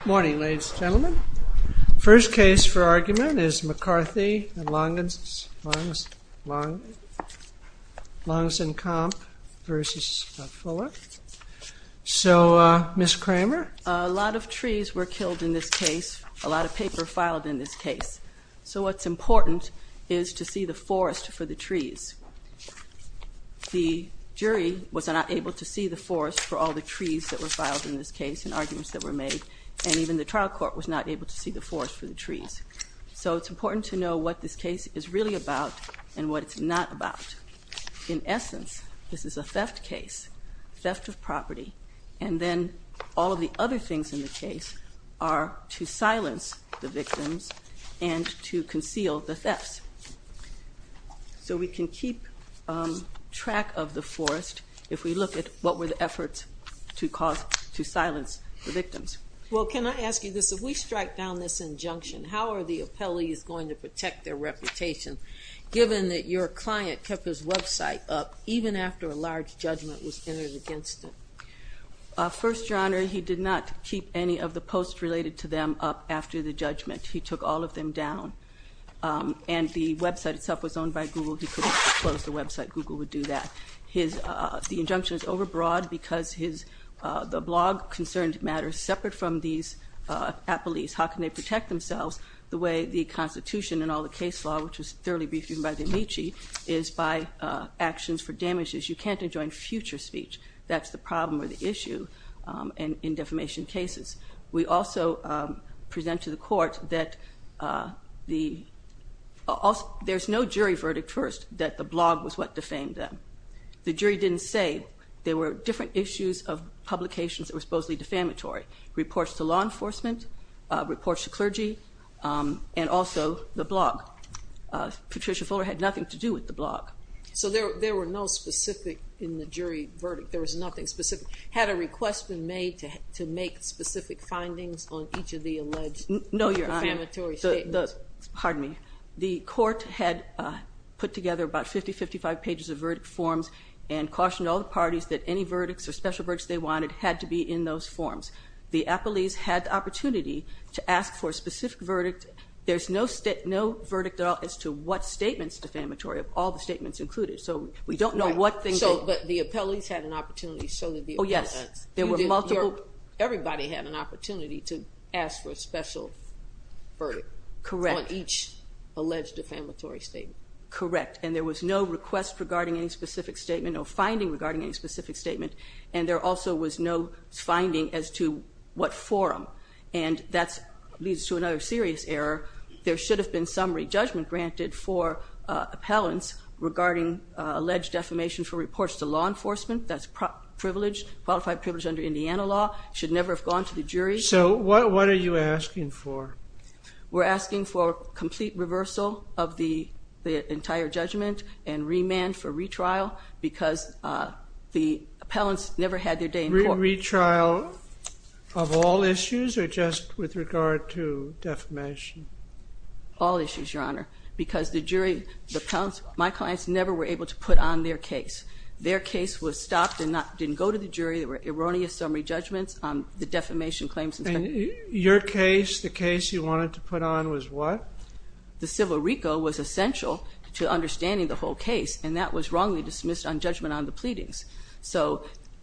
Good morning, ladies and gentlemen. The first case for argument is McCarthy v. Longincombe v. Fuller. So, Ms. Kramer? A lot of trees were killed in this case. A lot of paper filed in this case. So what's important is to see the forest for the trees. The jury was not able to see the forest for all the trees that were filed in this case and arguments that were made. And even the trial court was not able to see the forest for the trees. So it's important to know what this case is really about and what it's not about. In essence, this is a theft case, theft of property. And then all of the other things in the case are to silence the victims and to conceal the thefts. So we can keep track of the forest if we look at what were the efforts to silence the victims. Well, can I ask you this? If we strike down this injunction, how are the appellees going to protect their reputation, given that your client kept his website up even after a large judgment was entered against him? First, Your Honor, he did not keep any of the posts related to them up after the judgment. He took all of them down. And the website itself was owned by Google. He couldn't close the website. Google would do that. The injunction is overbroad because the blog concerned matters separate from these appellees. How can they protect themselves the way the Constitution and all the case law, which was thoroughly briefed even by the amici, is by actions for damages. You can't enjoin future speech. That's the problem or the issue in defamation cases. We also present to the court that there's no jury verdict first that the blog was what defamed them. The jury didn't say. There were different issues of publications that were supposedly defamatory. Reports to law enforcement, reports to clergy, and also the blog. Patricia Fuller had nothing to do with the blog. So there were no specific in the jury verdict. There was nothing specific. Had a request been made to make specific findings on each of the alleged defamatory statements? No, Your Honor. Pardon me. The court had put together about 50, 55 pages of verdict forms and cautioned all the parties that any verdicts or special verdicts they wanted had to be in those forms. The appellees had the opportunity to ask for a specific verdict. There's no state, no verdict at all as to what statements defamatory of all the statements included. So we don't know what things. But the appellees had an opportunity. Oh, yes. Everybody had an opportunity to ask for a special verdict. Correct. On each alleged defamatory statement. Correct. And there was no request regarding any specific statement or finding regarding any specific statement. And there also was no finding as to what forum. And that leads to another serious error. There should have been summary judgment granted for appellants regarding alleged defamation for reports to law enforcement. That's privilege, qualified privilege under Indiana law. Should never have gone to the jury. So what are you asking for? We're asking for complete reversal of the entire judgment and remand for retrial because the appellants never had their day in court. No retrial of all issues or just with regard to defamation? All issues, Your Honor, because the jury, my clients never were able to put on their case. Their case was stopped and didn't go to the jury. There were erroneous summary judgments on the defamation claims. And your case, the case you wanted to put on was what? The civil RICO was essential to understanding the whole case. And that was wrongly dismissed on judgment on the pleadings.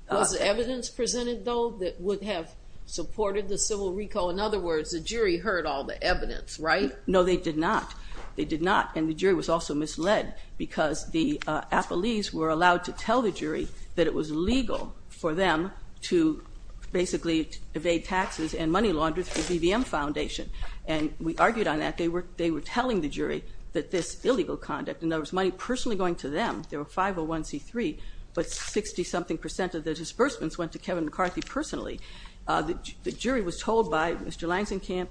Was evidence presented, though, that would have supported the civil RICO? In other words, the jury heard all the evidence, right? No, they did not. They did not. And the jury was also misled because the appellees were allowed to tell the jury that it was legal for them to basically evade taxes and money laundering through BVM Foundation. And we argued on that. They were telling the jury that this illegal conduct, and there was money personally going to them. There were 501C3, but 60-something percent of the disbursements went to Kevin McCarthy personally. The jury was told by Mr. Langzenkamp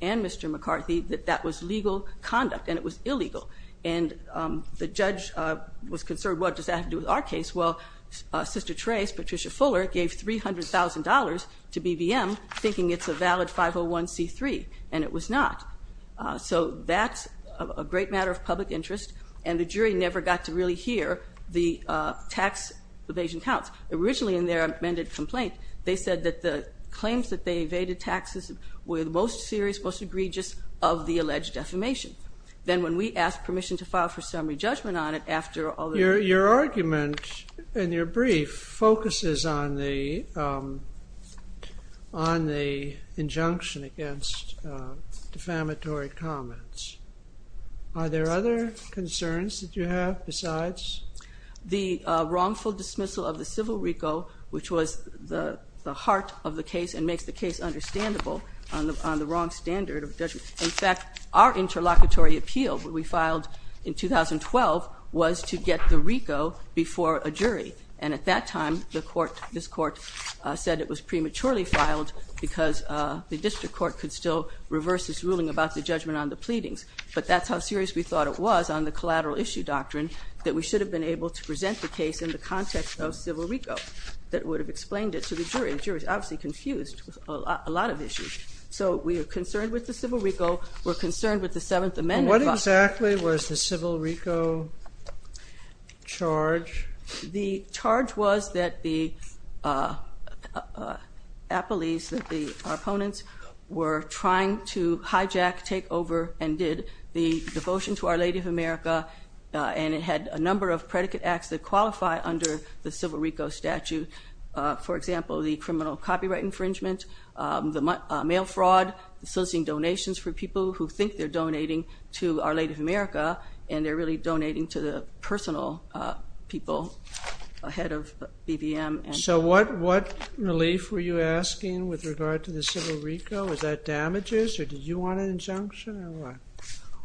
and Mr. McCarthy that that was legal conduct and it was illegal. And the judge was concerned, what does that have to do with our case? Well, Sister Trace, Patricia Fuller, gave $300,000 to BVM thinking it's a valid 501C3, and it was not. So that's a great matter of public interest, and the jury never got to really hear the tax evasion counts. Originally in their amended complaint, they said that the claims that they evaded taxes were the most serious, most egregious of the alleged defamation. Then when we asked permission to file for summary judgment on it after all the... Your argument in your brief focuses on the injunction against defamatory comments. Are there other concerns that you have besides? The wrongful dismissal of the civil RICO, which was the heart of the case and makes the case understandable on the wrong standard of judgment. In fact, our interlocutory appeal that we filed in 2012 was to get the RICO before a jury. And at that time, this court said it was prematurely filed because the district court could still reverse its ruling about the judgment on the pleadings. But that's how serious we thought it was on the collateral issue doctrine that we should have been able to present the case in the context of civil RICO. That would have explained it to the jury. The jury was obviously confused with a lot of issues. So we are concerned with the civil RICO. We're concerned with the Seventh Amendment. What exactly was the civil RICO charge? The charge was that the appellees, that the opponents, were trying to hijack, take over, and did the devotion to Our Lady of America. And it had a number of predicate acts that qualify under the civil RICO statute. For example, the criminal copyright infringement, the mail fraud, soliciting donations for people who think they're donating to Our Lady of America, and they're really donating to the personal people ahead of BBM. So what relief were you asking with regard to the civil RICO? Was that damages, or did you want an injunction, or what?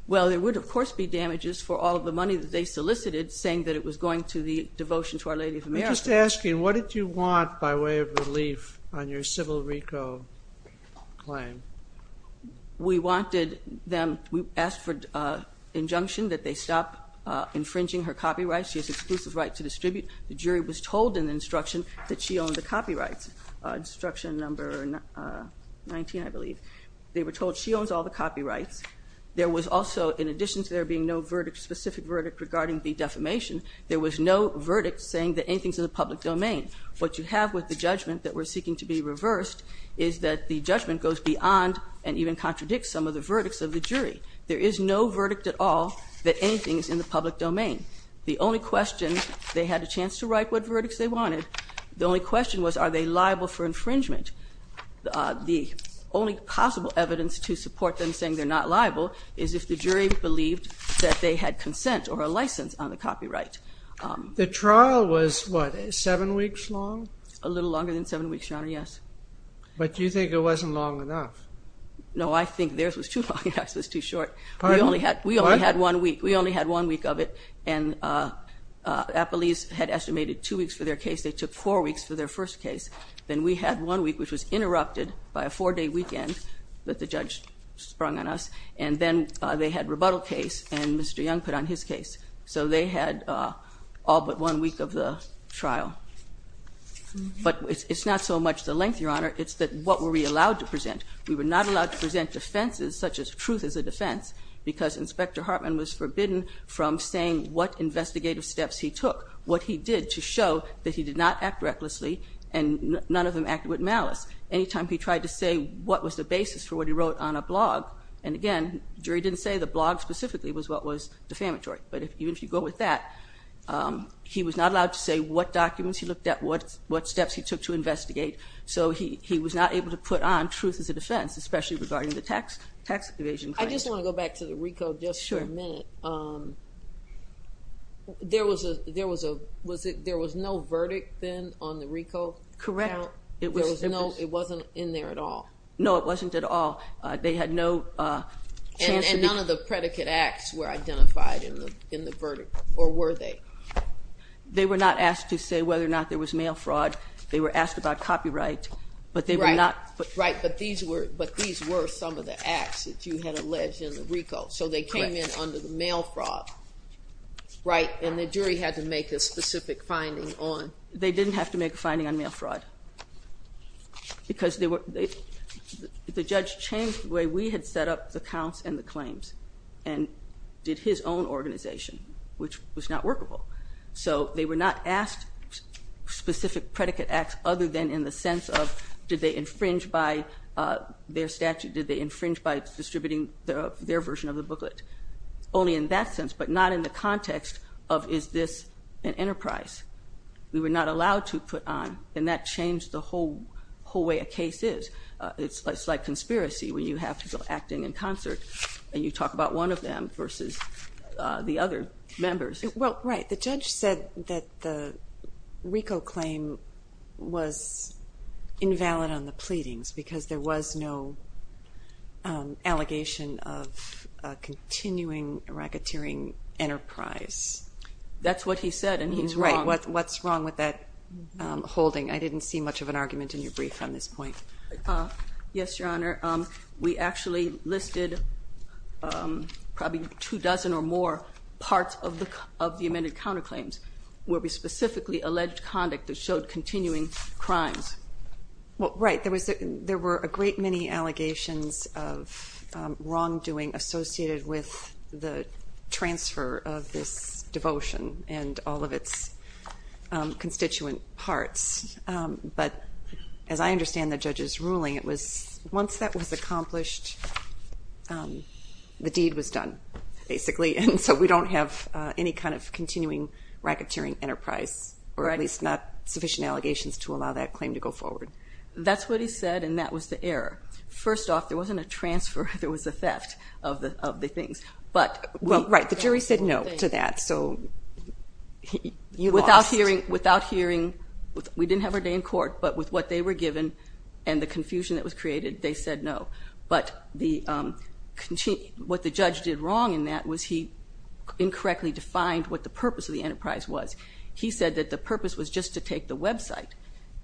Well, there would, of course, be damages for all of the money that they solicited saying that it was going to the devotion to Our Lady of America. I'm just asking, what did you want by way of relief on your civil RICO claim? We wanted them, we asked for injunction that they stop infringing her copyright. She has exclusive right to distribute. The jury was told in the instruction that she owned the copyrights, instruction number 19, I believe. They were told she owns all the copyrights. There was also, in addition to there being no verdict, specific verdict regarding the defamation, there was no verdict saying that anything is in the public domain. What you have with the judgment that we're seeking to be reversed is that the judgment goes beyond and even contradicts some of the verdicts of the jury. There is no verdict at all that anything is in the public domain. The only question, they had a chance to write what verdicts they wanted. The only question was, are they liable for infringement? The only possible evidence to support them saying they're not liable is if the jury believed that they had consent or a license on the copyright. The trial was, what, seven weeks long? A little longer than seven weeks, Your Honor, yes. But do you think it wasn't long enough? No, I think theirs was too long and ours was too short. Pardon? We only had one week. We only had one week of it, and Appleese had estimated two weeks for their case. They took four weeks for their first case. Then we had one week, which was interrupted by a four-day weekend that the judge sprung on us, and then they had a rebuttal case, and Mr. Young put on his case. So they had all but one week of the trial. But it's not so much the length, Your Honor. It's what were we allowed to present. We were not allowed to present defenses such as truth as a defense because Inspector Hartman was forbidden from saying what investigative steps he took, what he did to show that he did not act recklessly and none of them acted with malice. Any time he tried to say what was the basis for what he wrote on a blog, and again the jury didn't say the blog specifically was what was defamatory, but even if you go with that, he was not allowed to say what documents he looked at, what steps he took to investigate. So he was not able to put on truth as a defense, especially regarding the tax evasion claims. I just want to go back to the RICO just for a minute. There was no verdict then on the RICO? Correct. It wasn't in there at all? No, it wasn't at all. And none of the predicate acts were identified in the verdict, or were they? They were not asked to say whether or not there was mail fraud. They were asked about copyright. Right, but these were some of the acts that you had alleged in the RICO. So they came in under the mail fraud, right, and the jury had to make a specific finding on. They didn't have to make a finding on mail fraud because the judge changed the way we had set up the counts and the claims and did his own organization, which was not workable. So they were not asked specific predicate acts other than in the sense of did they infringe by their statute, did they infringe by distributing their version of the booklet. Only in that sense, but not in the context of is this an enterprise. We were not allowed to put on, and that changed the whole way a case is. It's like conspiracy where you have people acting in concert, and you talk about one of them versus the other members. Well, right, the judge said that the RICO claim was invalid on the pleadings because there was no allegation of continuing racketeering enterprise. That's what he said, and he's wrong. Right, what's wrong with that holding? I didn't see much of an argument in your brief on this point. Yes, Your Honor. We actually listed probably two dozen or more parts of the amended counterclaims where we specifically alleged conduct that showed continuing crimes. Well, right, there were a great many allegations of wrongdoing associated with the transfer of this devotion and all of its constituent parts. But as I understand the judge's ruling, once that was accomplished, the deed was done, basically, and so we don't have any kind of continuing racketeering enterprise or at least not sufficient allegations to allow that claim to go forward. That's what he said, and that was the error. First off, there wasn't a transfer. There was a theft of the things. Well, right, the jury said no to that, so you lost. Without hearing, we didn't have our day in court, but with what they were given and the confusion that was created, they said no. But what the judge did wrong in that was he incorrectly defined what the purpose of the enterprise was. He said that the purpose was just to take the website,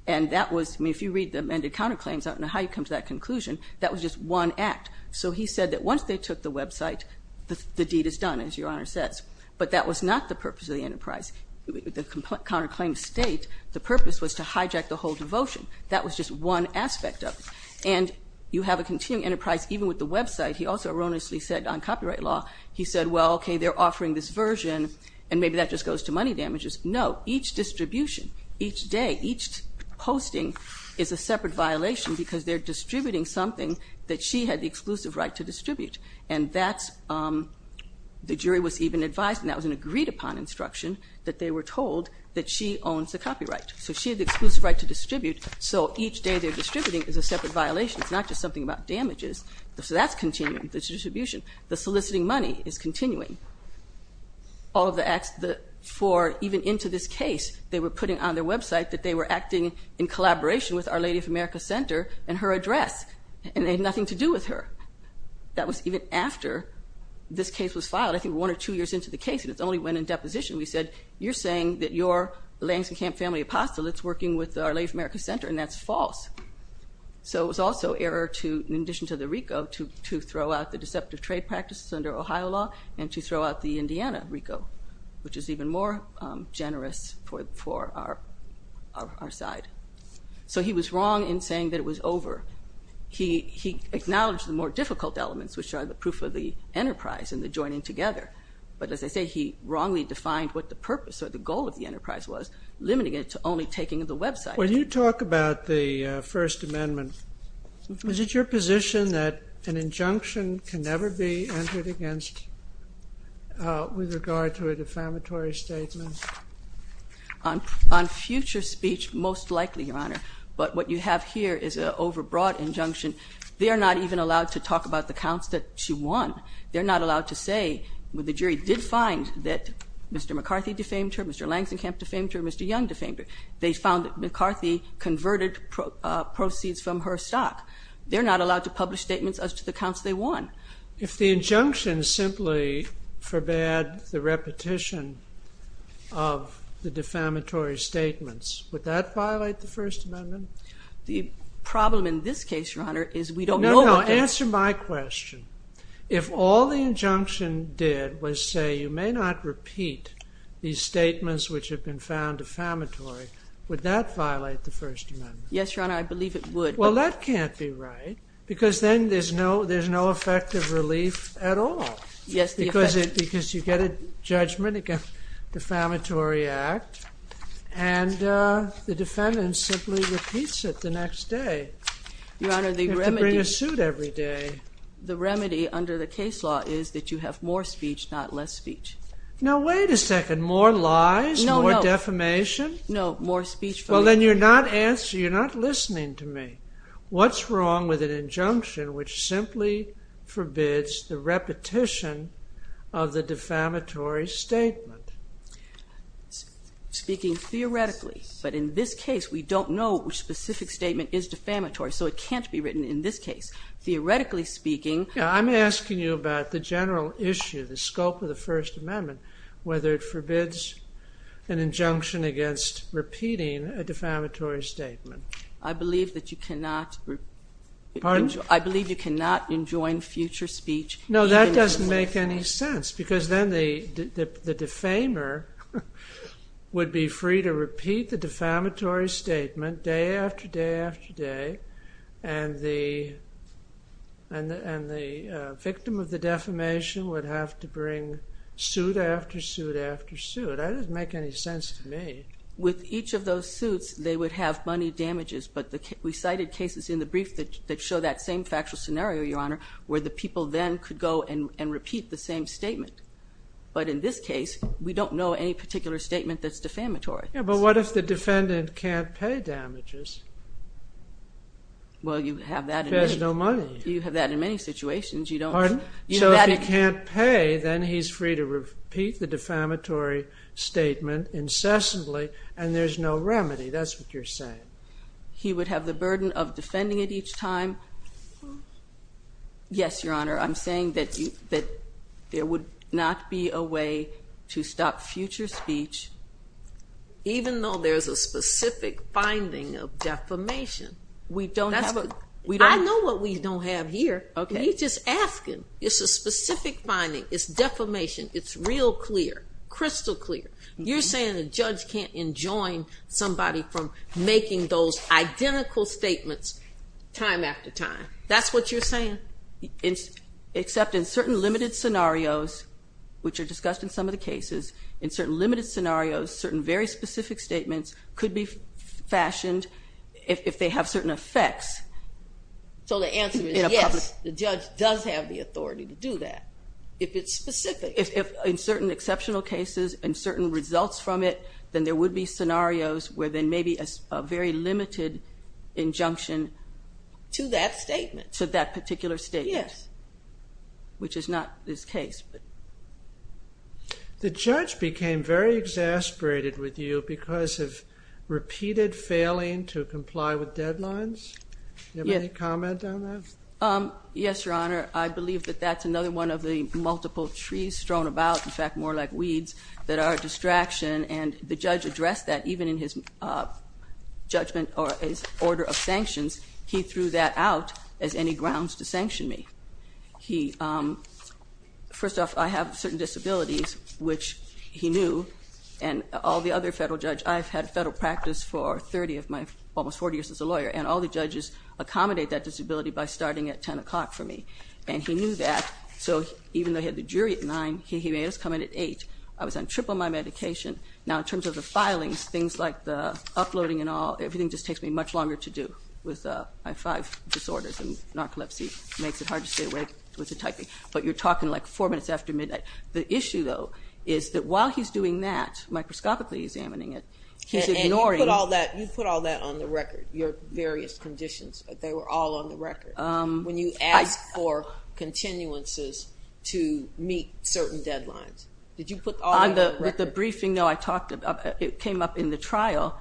and that was, I mean, if you read the amended counterclaims, I don't know how you come to that conclusion. That was just one act. So he said that once they took the website, the deed is done, as Your Honor says. But that was not the purpose of the enterprise. The counterclaims state the purpose was to hijack the whole devotion. That was just one aspect of it. And you have a continuing enterprise even with the website. He also erroneously said on copyright law, he said, well, okay, they're offering this version, and maybe that just goes to money damages. No, each distribution, each day, each posting is a separate violation because they're distributing something that she had the exclusive right to distribute, and that's the jury was even advised, and that was an agreed-upon instruction, that they were told that she owns the copyright. So she had the exclusive right to distribute, so each day they're distributing is a separate violation. It's not just something about damages. So that's continuing, this distribution. The soliciting money is continuing. All of the acts for even into this case, they were putting on their website that they were acting in collaboration with Our Lady of America Center and her address, and they had nothing to do with her. That was even after this case was filed, I think one or two years into the case, and it's only when in deposition we said, you're saying that you're the Langston Camp family apostolate's working with Our Lady of America Center, and that's false. So it was also error to, in addition to the RICO, to throw out the deceptive trade practices under Ohio law and to throw out the Indiana RICO, which is even more generous for our side. So he was wrong in saying that it was over. He acknowledged the more difficult elements, which are the proof of the enterprise and the joining together. But as I say, he wrongly defined what the purpose or the goal of the enterprise was, limiting it to only taking the website. When you talk about the First Amendment, is it your position that an injunction can never be entered against with regard to a defamatory statement? On future speech, most likely, Your Honor. But what you have here is an overbroad injunction. They are not even allowed to talk about the counts that she won. They're not allowed to say when the jury did find that Mr. McCarthy defamed her, Mr. Langston Camp defamed her, Mr. Young defamed her. They found that McCarthy converted proceeds from her stock. They're not allowed to publish statements as to the counts they won. If the injunction simply forbade the repetition of the defamatory statements, would that violate the First Amendment? The problem in this case, Your Honor, is we don't know what the... No, no. Answer my question. If all the injunction did was say, you may not repeat these statements which have been found defamatory, would that violate the First Amendment? Yes, Your Honor. I believe it would. Well, that can't be right because then there's no effective relief at all. Yes, the effect... Because you get a judgment against the Defamatory Act. And the defendant simply repeats it the next day. Your Honor, the remedy... You have to bring a suit every day. The remedy under the case law is that you have more speech, not less speech. Now, wait a second. More lies? No, no. More defamation? No, more speech... Well, then you're not listening to me. What's wrong with an injunction which simply forbids the repetition of the defamatory statement? Speaking theoretically. But in this case, we don't know which specific statement is defamatory, so it can't be written in this case. Theoretically speaking... I'm asking you about the general issue, the scope of the First Amendment, whether it forbids an injunction against repeating a defamatory statement. I believe that you cannot... Pardon? I believe you cannot enjoin future speech... No, that doesn't make any sense because then the defamer would be free to repeat the defamatory statement day after day after day, and the victim of the defamation would have to bring suit after suit after suit. That doesn't make any sense to me. With each of those suits, they would have money damages, but we cited cases in the brief that show that same factual scenario, Your Honor, where the people then could go and repeat the same statement. But in this case, we don't know any particular statement that's defamatory. Yeah, but what if the defendant can't pay damages? Well, you have that in many... If there's no money. You have that in many situations. Pardon? So if he can't pay, then he's free to repeat the defamatory statement incessantly, and there's no remedy. That's what you're saying. He would have the burden of defending it each time? Yes, Your Honor. I'm saying that there would not be a way to stop future speech, even though there's a specific finding of defamation. We don't have a... I know what we don't have here. You're just asking. It's a specific finding. It's defamation. It's real clear, crystal clear. You're saying the judge can't enjoin somebody from making those identical statements time after time. That's what you're saying? Except in certain limited scenarios, which are discussed in some of the cases, in certain limited scenarios, certain very specific statements could be fashioned if they have certain effects. So the answer is yes, the judge does have the authority to do that, if it's specific. If in certain exceptional cases and certain results from it, then there would be scenarios where there may be a very limited injunction... To that statement. To that particular statement. Yes. Which is not this case. The judge became very exasperated with you because of repeated failing to comply with deadlines. Do you have any comment on that? Yes, Your Honor. I believe that that's another one of the multiple trees thrown about, in fact more like weeds, that are a distraction, and the judge addressed that even in his judgment or his order of sanctions. He threw that out as any grounds to sanction me. First off, I have certain disabilities, which he knew, and all the other federal judges. I've had federal practice for 30 of my almost 40 years as a lawyer, and all the judges accommodate that disability by starting at 10 o'clock for me, and he knew that. So even though he had the jury at 9, he made us come in at 8. I was on triple my medication. Now in terms of the filings, things like the uploading and all, everything just takes me much longer to do with my five disorders, and narcolepsy makes it hard to stay awake with the typing. But you're talking like four minutes after midnight. The issue, though, is that while he's doing that, microscopically examining it, he's ignoring... They were all on the record. When you asked for continuances to meet certain deadlines, did you put all that on the record? On the briefing, no, I talked about it. It came up in the trial,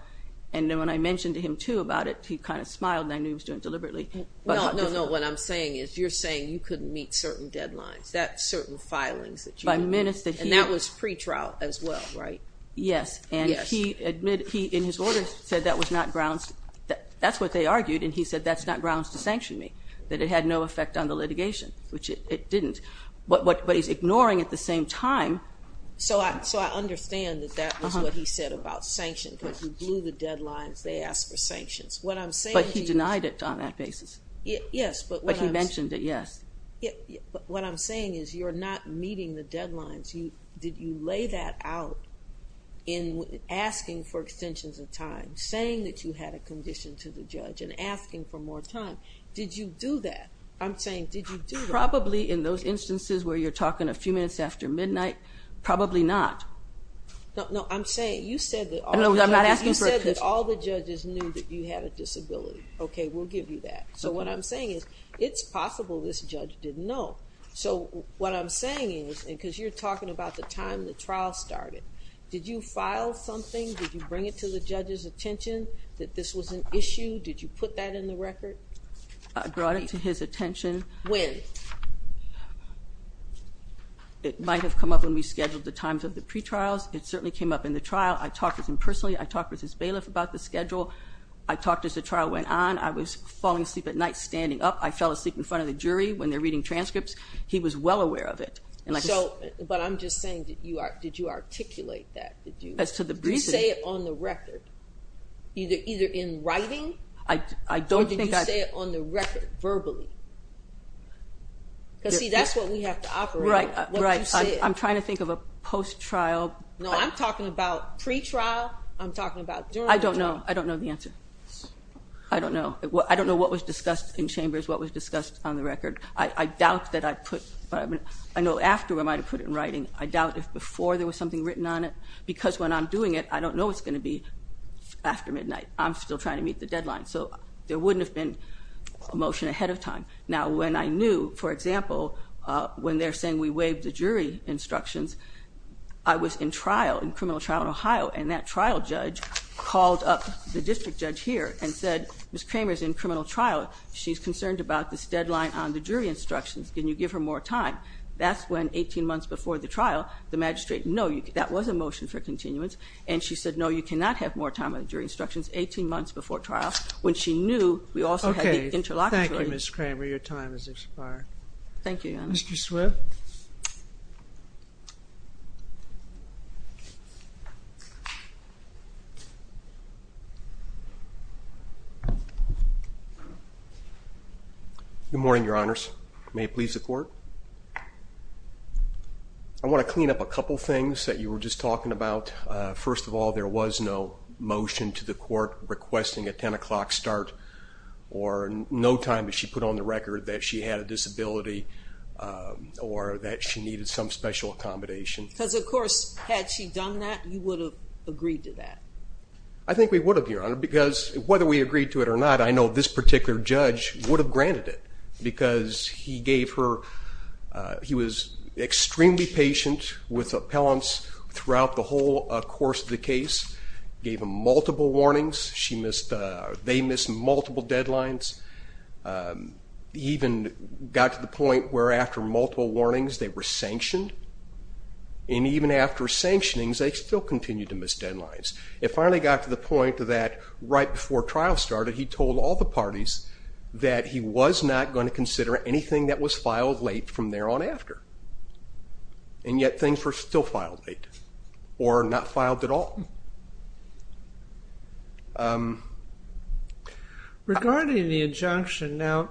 and when I mentioned to him, too, about it, he kind of smiled and I knew he was doing it deliberately. No, no, no. What I'm saying is you're saying you couldn't meet certain deadlines, that certain filings that you... By minutes that he... And that was pretrial as well. Right. Yes. Yes. He, in his orders, said that was not grounds... That's what they argued, and he said that's not grounds to sanction me, that it had no effect on the litigation, which it didn't. But he's ignoring at the same time... So I understand that that was what he said about sanction, because you blew the deadlines, they asked for sanctions. What I'm saying is... But he denied it on that basis. Yes, but what I'm... But he mentioned it, yes. But what I'm saying is you're not meeting the deadlines. Did you lay that out in asking for extensions of time, saying that you had a condition to the judge and asking for more time? Did you do that? I'm saying, did you do that? Probably in those instances where you're talking a few minutes after midnight, probably not. No, no, I'm saying you said that all the judges... No, I'm not asking for... You said that all the judges knew that you had a disability. Okay, we'll give you that. So what I'm saying is it's possible this judge didn't know. So what I'm saying is, because you're talking about the time the trial started, did you file something? Did you bring it to the judge's attention that this was an issue? Did you put that in the record? I brought it to his attention. When? It might have come up when we scheduled the times of the pretrials. It certainly came up in the trial. I talked with him personally. I talked with his bailiff about the schedule. I talked as the trial went on. I was falling asleep at night standing up. I fell asleep in front of the jury when they're reading transcripts. He was well aware of it. But I'm just saying, did you articulate that? As to the reason... Did you say it on the record? Either in writing? I don't think I... Or did you say it on the record, verbally? Because, see, that's what we have to operate on. Right, right. What you said. I'm trying to think of a post-trial... No, I'm talking about pretrial. I'm talking about during the trial. I don't know. I don't know the answer. I don't know. I don't know what was discussed in chambers, what was discussed on the record. I doubt that I put... I know after I might have put it in writing. I doubt if before there was something written on it. Because when I'm doing it, I don't know what's going to be after midnight. I'm still trying to meet the deadline. So there wouldn't have been a motion ahead of time. Now, when I knew, for example, when they're saying we waived the jury instructions, I was in trial, in criminal trial in Ohio. And that trial judge called up the district judge here and said, Ms. Kramer's in criminal trial. She's concerned about this deadline on the jury instructions. Can you give her more time? That's when 18 months before the trial, the magistrate, no, that was a motion for continuance. And she said, no, you cannot have more time on the jury instructions 18 months before trial. When she knew we also had the interlocutor... Okay. Thank you, Ms. Kramer. Your time has expired. Thank you, Your Honor. Mr. Swift. Good morning, Your Honors. May it please the court. I want to clean up a couple things that you were just talking about. First of all, there was no motion to the court requesting a 10 o'clock start or no time that she put on the record that she had a disability or that she needed some special accommodation. Because, of course, had she done that, you would have agreed to that. I think we would have, Your Honor, because whether we agreed to it or not, I know this particular judge would have granted it. Because he was extremely patient with appellants throughout the whole course of the case, gave them multiple warnings, they missed multiple deadlines, even got to the point where after multiple warnings they were sanctioned. And even after sanctionings, they still continued to miss deadlines. It finally got to the point that right before trial started he told all the parties that he was not going to consider anything that was filed late from there on after. And yet things were still filed late or not filed at all. Regarding the injunction, I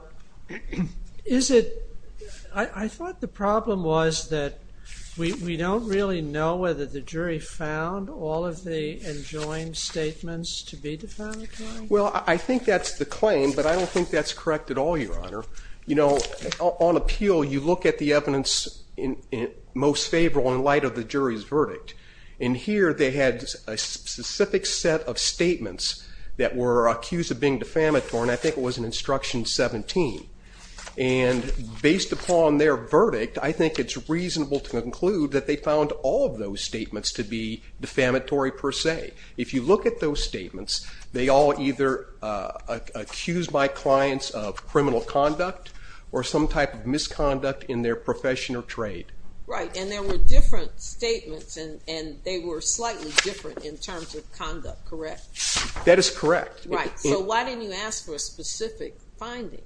thought the problem was that we don't really know whether the jury found all of the enjoined statements to be defamatory. Well, I think that's the claim, but I don't think that's correct at all, Your Honor. You know, on appeal you look at the evidence most favorable in light of the jury's verdict. And here they had a specific set of statements that were accused of being defamatory, and I think it was in Instruction 17. And based upon their verdict, I think it's reasonable to conclude that they found all of those statements to be defamatory per se. If you look at those statements, they all either accused my clients of criminal conduct or some type of misconduct in their profession or trade. Right, and there were different statements, and they were slightly different in terms of conduct, correct? That is correct. Right, so why didn't you ask for a specific finding in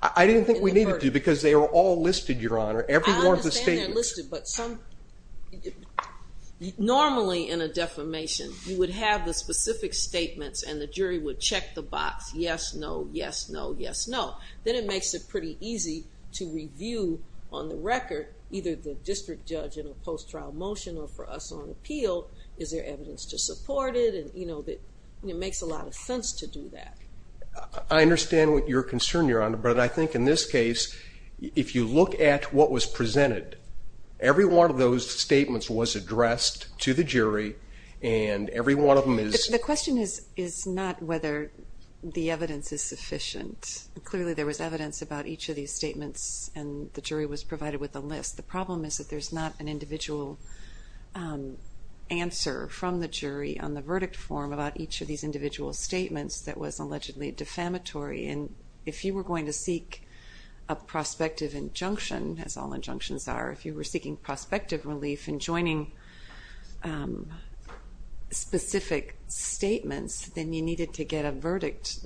the verdict? I didn't think we needed to because they were all listed, Your Honor, every one of the statements. I understand they're listed, but normally in a defamation you would have the specific statements and the jury would check the box, yes, no, yes, no, yes, no. Then it makes it pretty easy to review on the record either the district judge in a post-trial motion or for us on appeal, is there evidence to support it? It makes a lot of sense to do that. I understand what your concern, Your Honor, but I think in this case if you look at what was presented, every one of those statements was addressed to the jury and every one of them is. The question is not whether the evidence is sufficient. Clearly there was evidence about each of these statements and the jury was provided with a list. The problem is that there's not an individual answer from the jury on the verdict form about each of these individual statements that was allegedly defamatory, and if you were going to seek a prospective injunction, as all injunctions are, if you were seeking prospective relief and joining specific statements, then you needed to get a verdict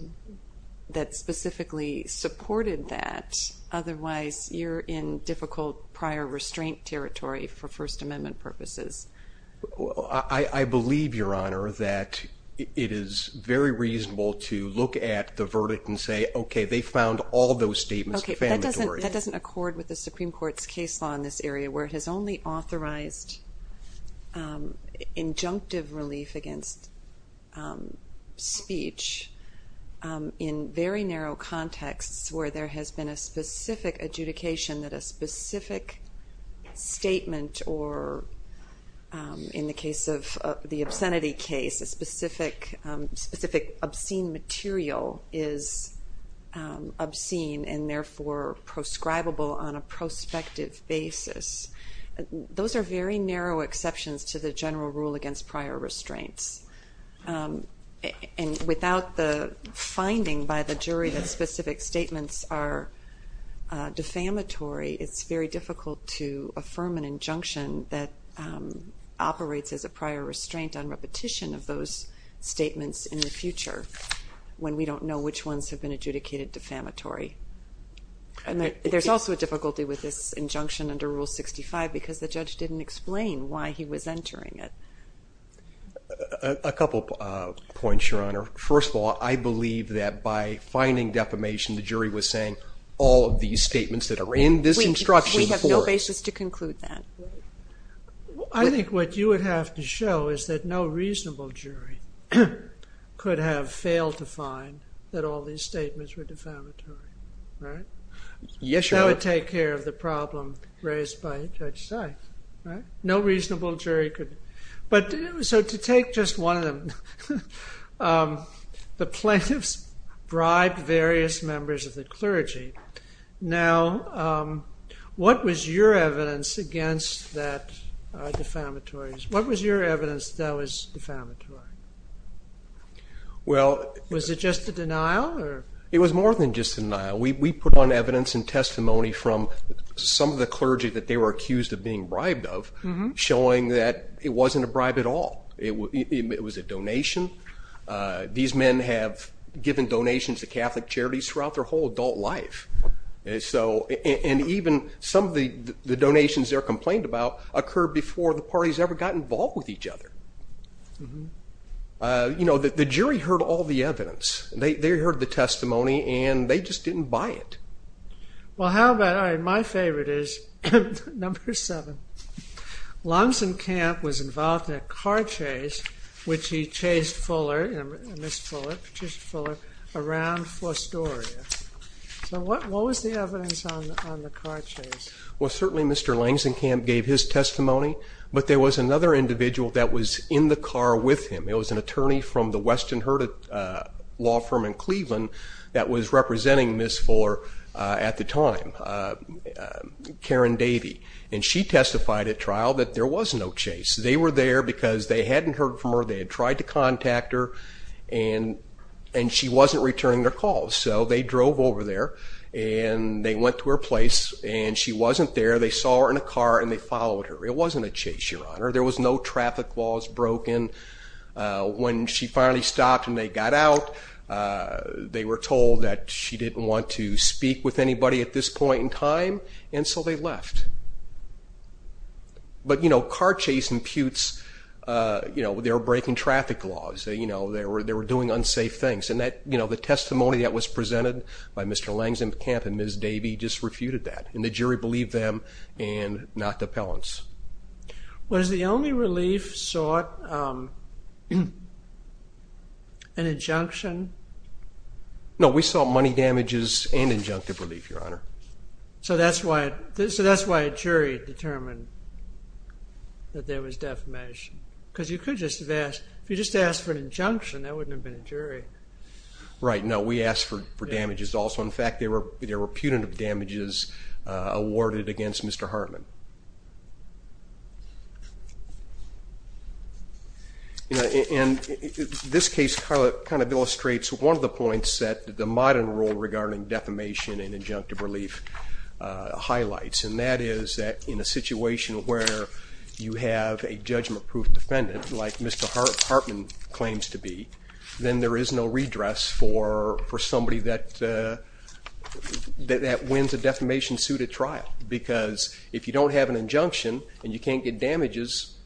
that specifically supported that. Otherwise you're in difficult prior restraint territory for First Amendment purposes. I believe, Your Honor, that it is very reasonable to look at the verdict and say, okay, they found all those statements defamatory. That doesn't accord with the Supreme Court's case law in this area where it has only authorized injunctive relief against speech in very narrow contexts where there has been a specific adjudication that a specific statement or, in the case of the obscenity case, a specific obscene material is obscene and therefore proscribable on a prospective basis. Those are very narrow exceptions to the general rule against prior restraints. And without the finding by the jury that specific statements are defamatory, it's very difficult to affirm an injunction that operates as a prior restraint on repetition of those statements in the future when we don't know which ones have been adjudicated defamatory. There's also a difficulty with this injunction under Rule 65 because the judge didn't explain why he was entering it. A couple of points, Your Honor. First of all, I believe that by finding defamation, the jury was saying all of these statements that are in this instruction were. We have no basis to conclude that. I think what you would have to show is that no reasonable jury could have failed to find that all these statements were defamatory, right? Yes, Your Honor. That would take care of the problem raised by Judge Sykes, right? No reasonable jury could. But so to take just one of them, the plaintiffs bribed various members of the clergy. Now, what was your evidence against that defamatory? What was your evidence that that was defamatory? Well. Was it just a denial or? It was more than just a denial. We put on evidence and testimony from some of the clergy that they were accused of being bribed of, showing that it wasn't a bribe at all. It was a donation. These men have given donations to Catholic charities throughout their whole adult life. And even some of the donations they're complained about occurred before the parties ever got involved with each other. You know, the jury heard all the evidence. They heard the testimony, and they just didn't buy it. Well, how about, all right, my favorite is number seven. Langzenkamp was involved in a car chase, which he chased Fuller, Ms. Fuller, chased Fuller around Forstoria. So what was the evidence on the car chase? Well, certainly Mr. Langzenkamp gave his testimony, but there was another individual that was in the car with him. It was an attorney from the Western Herd Law Firm in Cleveland that was representing Ms. Fuller at the time, Karen Davey. And she testified at trial that there was no chase. They were there because they hadn't heard from her. They had tried to contact her, and she wasn't returning their calls. So they drove over there, and they went to her place, and she wasn't there. They saw her in a car, and they followed her. It wasn't a chase, Your Honor. There was no traffic laws broken. When she finally stopped and they got out, they were told that she didn't want to speak with anybody at this point in time, and so they left. But, you know, car chase imputes, you know, they were breaking traffic laws. They were doing unsafe things, and the testimony that was presented by Mr. Langzenkamp and Ms. Davey just refuted that, and the jury believed them and not the appellants. Was the only relief sought an injunction? No, we sought money damages and injunctive relief, Your Honor. So that's why a jury determined that there was defamation? Because you could just have asked. If you just asked for an injunction, that wouldn't have been a jury. Right, no, we asked for damages also. In fact, there were punitive damages awarded against Mr. Hartman. And this case kind of illustrates one of the points that the modern rule regarding defamation and injunctive relief highlights, and that is that in a situation where you have a judgment-proof defendant like Mr. Hartman claims to be, then there is no redress for somebody that wins a defamation-suited trial because if you don't have an injunction and you can't get damages,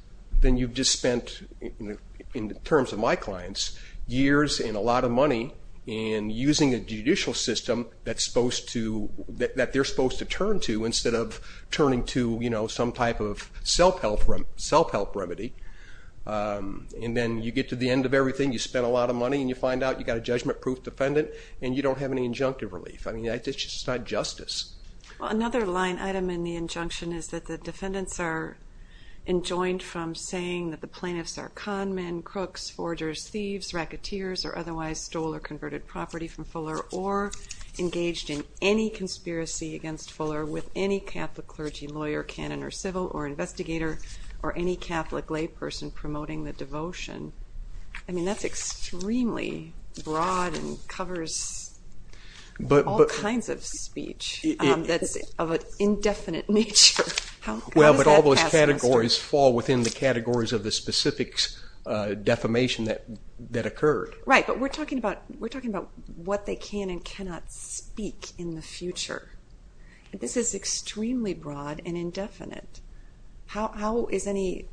then you've just spent, in terms of my clients, years and a lot of money in using a judicial system that they're supposed to turn to instead of turning to some type of self-help remedy. And then you get to the end of everything, you spend a lot of money, and you find out you've got a judgment-proof defendant, and you don't have any injunctive relief. I mean, it's just not justice. Another line item in the injunction is that the defendants are enjoined from saying that the plaintiffs are con men, crooks, forgers, thieves, racketeers, or otherwise stole or converted property from Fuller or engaged in any conspiracy against Fuller with any Catholic clergy, lawyer, canon, or civil, or investigator, or any Catholic layperson promoting the devotion. I mean, that's extremely broad and covers all kinds of speech that's of an indefinite nature. Well, but all those categories fall within the categories of the specific defamation that occurred. Right, but we're talking about what they can and cannot speak in the future. This is extremely broad and indefinite. How is any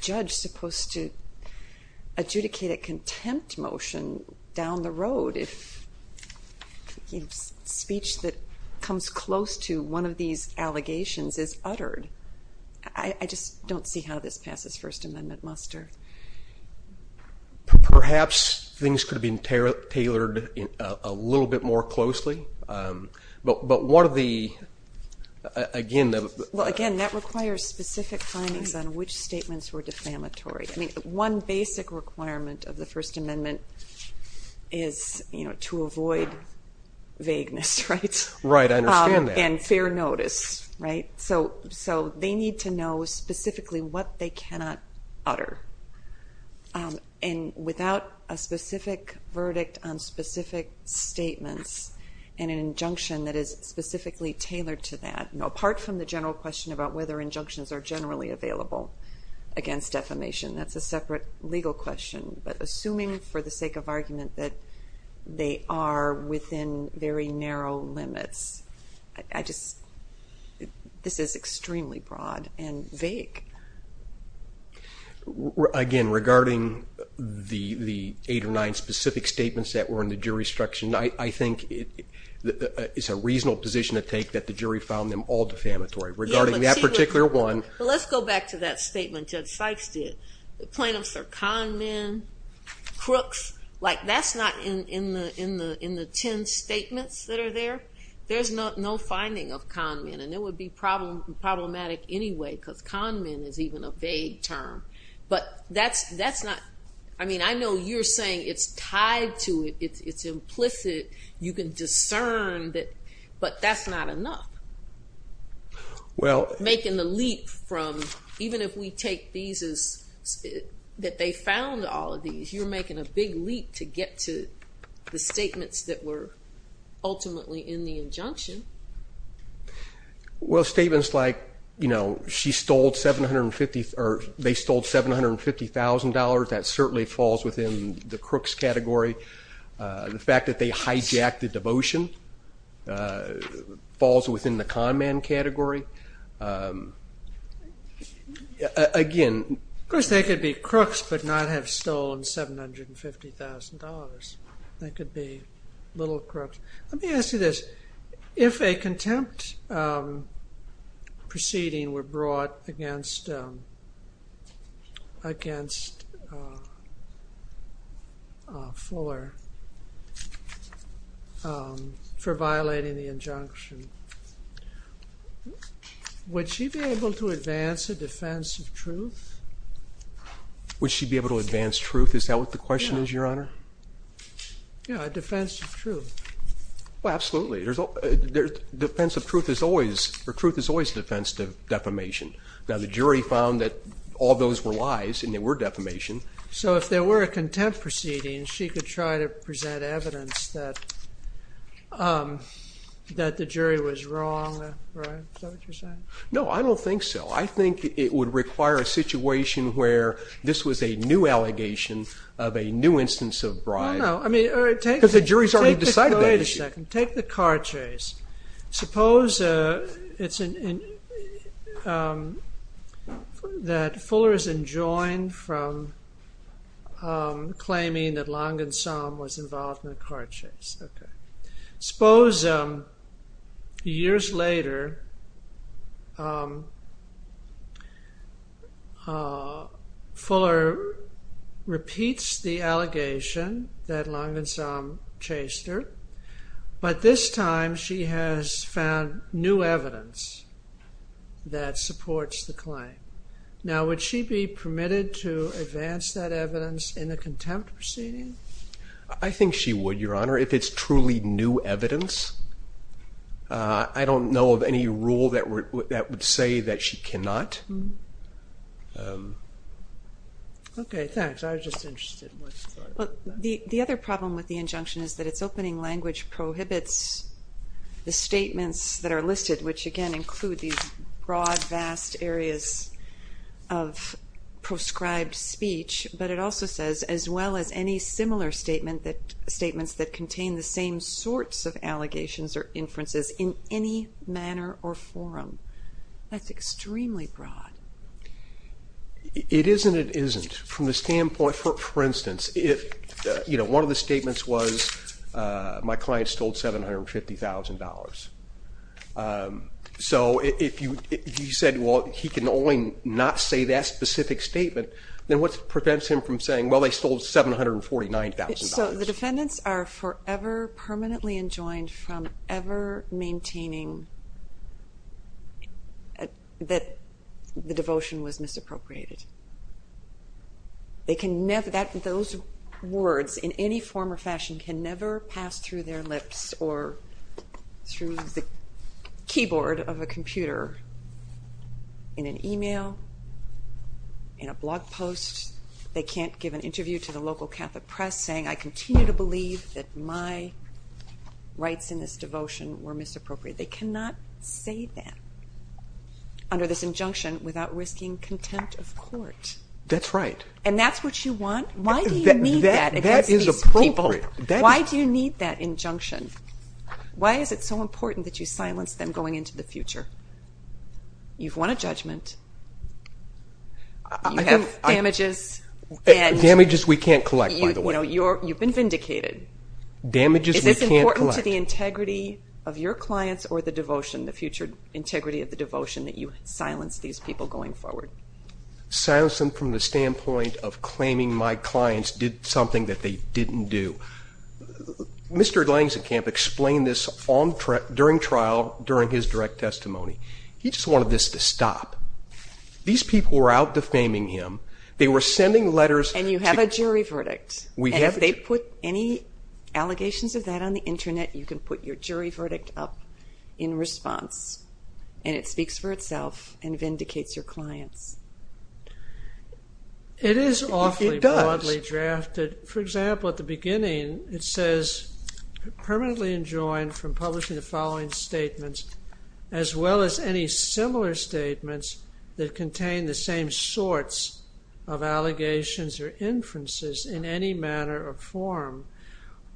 judge supposed to adjudicate a contempt motion down the road if a speech that comes close to one of these allegations is uttered? I just don't see how this passes First Amendment muster. Perhaps things could have been tailored a little bit more closely. But what are the, again, the— Well, again, that requires specific findings on which statements were defamatory. I mean, one basic requirement of the First Amendment is to avoid vagueness, right? Right, I understand that. And fair notice, right? So they need to know specifically what they cannot utter. And without a specific verdict on specific statements and an injunction that is specifically tailored to that, apart from the general question about whether injunctions are generally available against defamation, that's a separate legal question. But assuming for the sake of argument that they are within very narrow limits, I just—this is extremely broad and vague. Again, regarding the eight or nine specific statements that were in the jurisdiction, I think it's a reasonable position to take that the jury found them all defamatory. Regarding that particular one— Let's go back to that statement Judge Sykes did. The plaintiffs are con men, crooks. Like, that's not in the ten statements that are there. There's no finding of con men. And it would be problematic anyway because con men is even a vague term. But that's not—I mean, I know you're saying it's tied to it, it's implicit, you can discern that, but that's not enough. Making the leap from—even if we take these as that they found all of these, if you're making a big leap to get to the statements that were ultimately in the injunction— Well, statements like, you know, she stole $750,000, that certainly falls within the crooks category. The fact that they hijacked the devotion falls within the con man category. Again— Of course, they could be crooks but not have stolen $750,000. They could be little crooks. Let me ask you this. If a contempt proceeding were brought against Fuller for violating the injunction, would she be able to advance a defense of truth? Would she be able to advance truth? Is that what the question is, Your Honor? Yeah, a defense of truth. Well, absolutely. A defense of truth is always a defense of defamation. Now, the jury found that all those were lies and they were defamation. So if there were a contempt proceeding, she could try to present evidence that the jury was wrong, right? Is that what you're saying? No, I don't think so. I think it would require a situation where this was a new allegation of a new instance of bribe. Because the jury has already decided that issue. Wait a second. Take the car chase. Suppose that Fuller is enjoined from claiming that Long and Som was involved in a car chase. Suppose years later, Fuller repeats the allegation that Long and Som chased her. But this time she has found new evidence that supports the claim. Now, would she be permitted to advance that evidence in a contempt proceeding? I think she would, Your Honor, if it's truly new evidence. I don't know of any rule that would say that she cannot. Okay, thanks. I was just interested in what you thought of that. The other problem with the injunction is that its opening language prohibits the statements that are listed, which, again, include these broad, vast areas of proscribed speech. But it also says, as well as any similar statements that contain the same sorts of allegations or inferences in any manner or forum. That's extremely broad. It is and it isn't. From the standpoint, for instance, if one of the statements was, my client stole $750,000. So if you said, well, he can only not say that specific statement, then what prevents him from saying, well, they stole $749,000? So the defendants are forever permanently enjoined from ever maintaining that the devotion was misappropriated. Those words, in any form or fashion, can never pass through their lips or through the keyboard of a computer in an e-mail, in a blog post. They can't give an interview to the local Catholic press saying, I continue to believe that my rights in this devotion were misappropriated. They cannot say that under this injunction without risking contempt of court. That's right. And that's what you want? Why do you need that against these people? That is appropriate. Why do you need that injunction? Why is it so important that you silence them going into the future? You've won a judgment. You have damages. Damages we can't collect, by the way. You've been vindicated. Damages we can't collect. Is this important to the integrity of your clients or the devotion, the future integrity of the devotion that you silence these people going forward? Silence them from the standpoint of claiming my clients did something that they didn't do. Mr. Langzenkamp explained this during trial, during his direct testimony. He just wanted this to stop. These people were out defaming him. They were sending letters. And you have a jury verdict. We have. And if they put any allegations of that on the Internet, you can put your jury verdict up in response, and it speaks for itself and vindicates your clients. It is awfully broadly drafted. It does. For example, at the beginning it says, permanently enjoined from publishing the following statements, as well as any similar statements that contain the same sorts of allegations or inferences in any manner or form.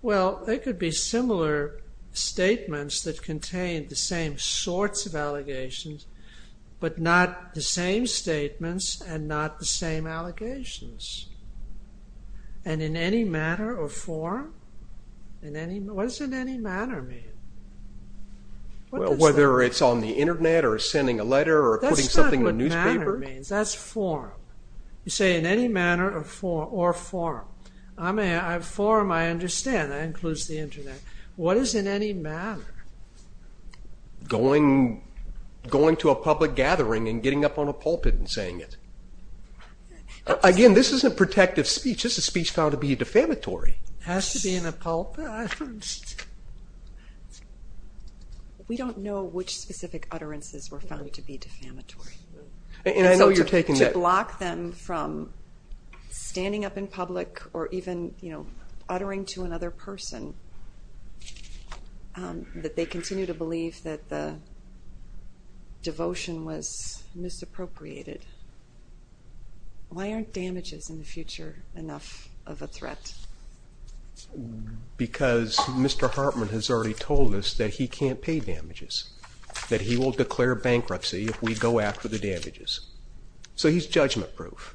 Well, they could be similar statements that contain the same sorts of allegations, but not the same statements and not the same allegations. And in any manner or form? What does in any manner mean? Well, whether it's on the Internet or sending a letter or putting something in a newspaper. That's not what manner means. That's form. You say in any manner or form. I mean, form I understand. That includes the Internet. What is in any manner? Going to a public gathering and getting up on a pulpit and saying it. Again, this isn't protective speech. This is speech found to be defamatory. It has to be in a pulpit. We don't know which specific utterances were found to be defamatory. And I know you're taking that. To block them from standing up in public or even uttering to another person that they continue to believe that the devotion was misappropriated. Why aren't damages in the future enough of a threat? Because Mr. Hartman has already told us that he can't pay damages, that he will declare bankruptcy if we go after the damages. So he's judgment-proof.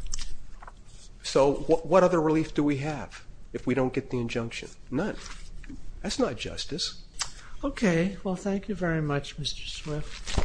So what other relief do we have if we don't get the injunction? That's not justice. Okay. Well, thank you very much, Mr. Swift.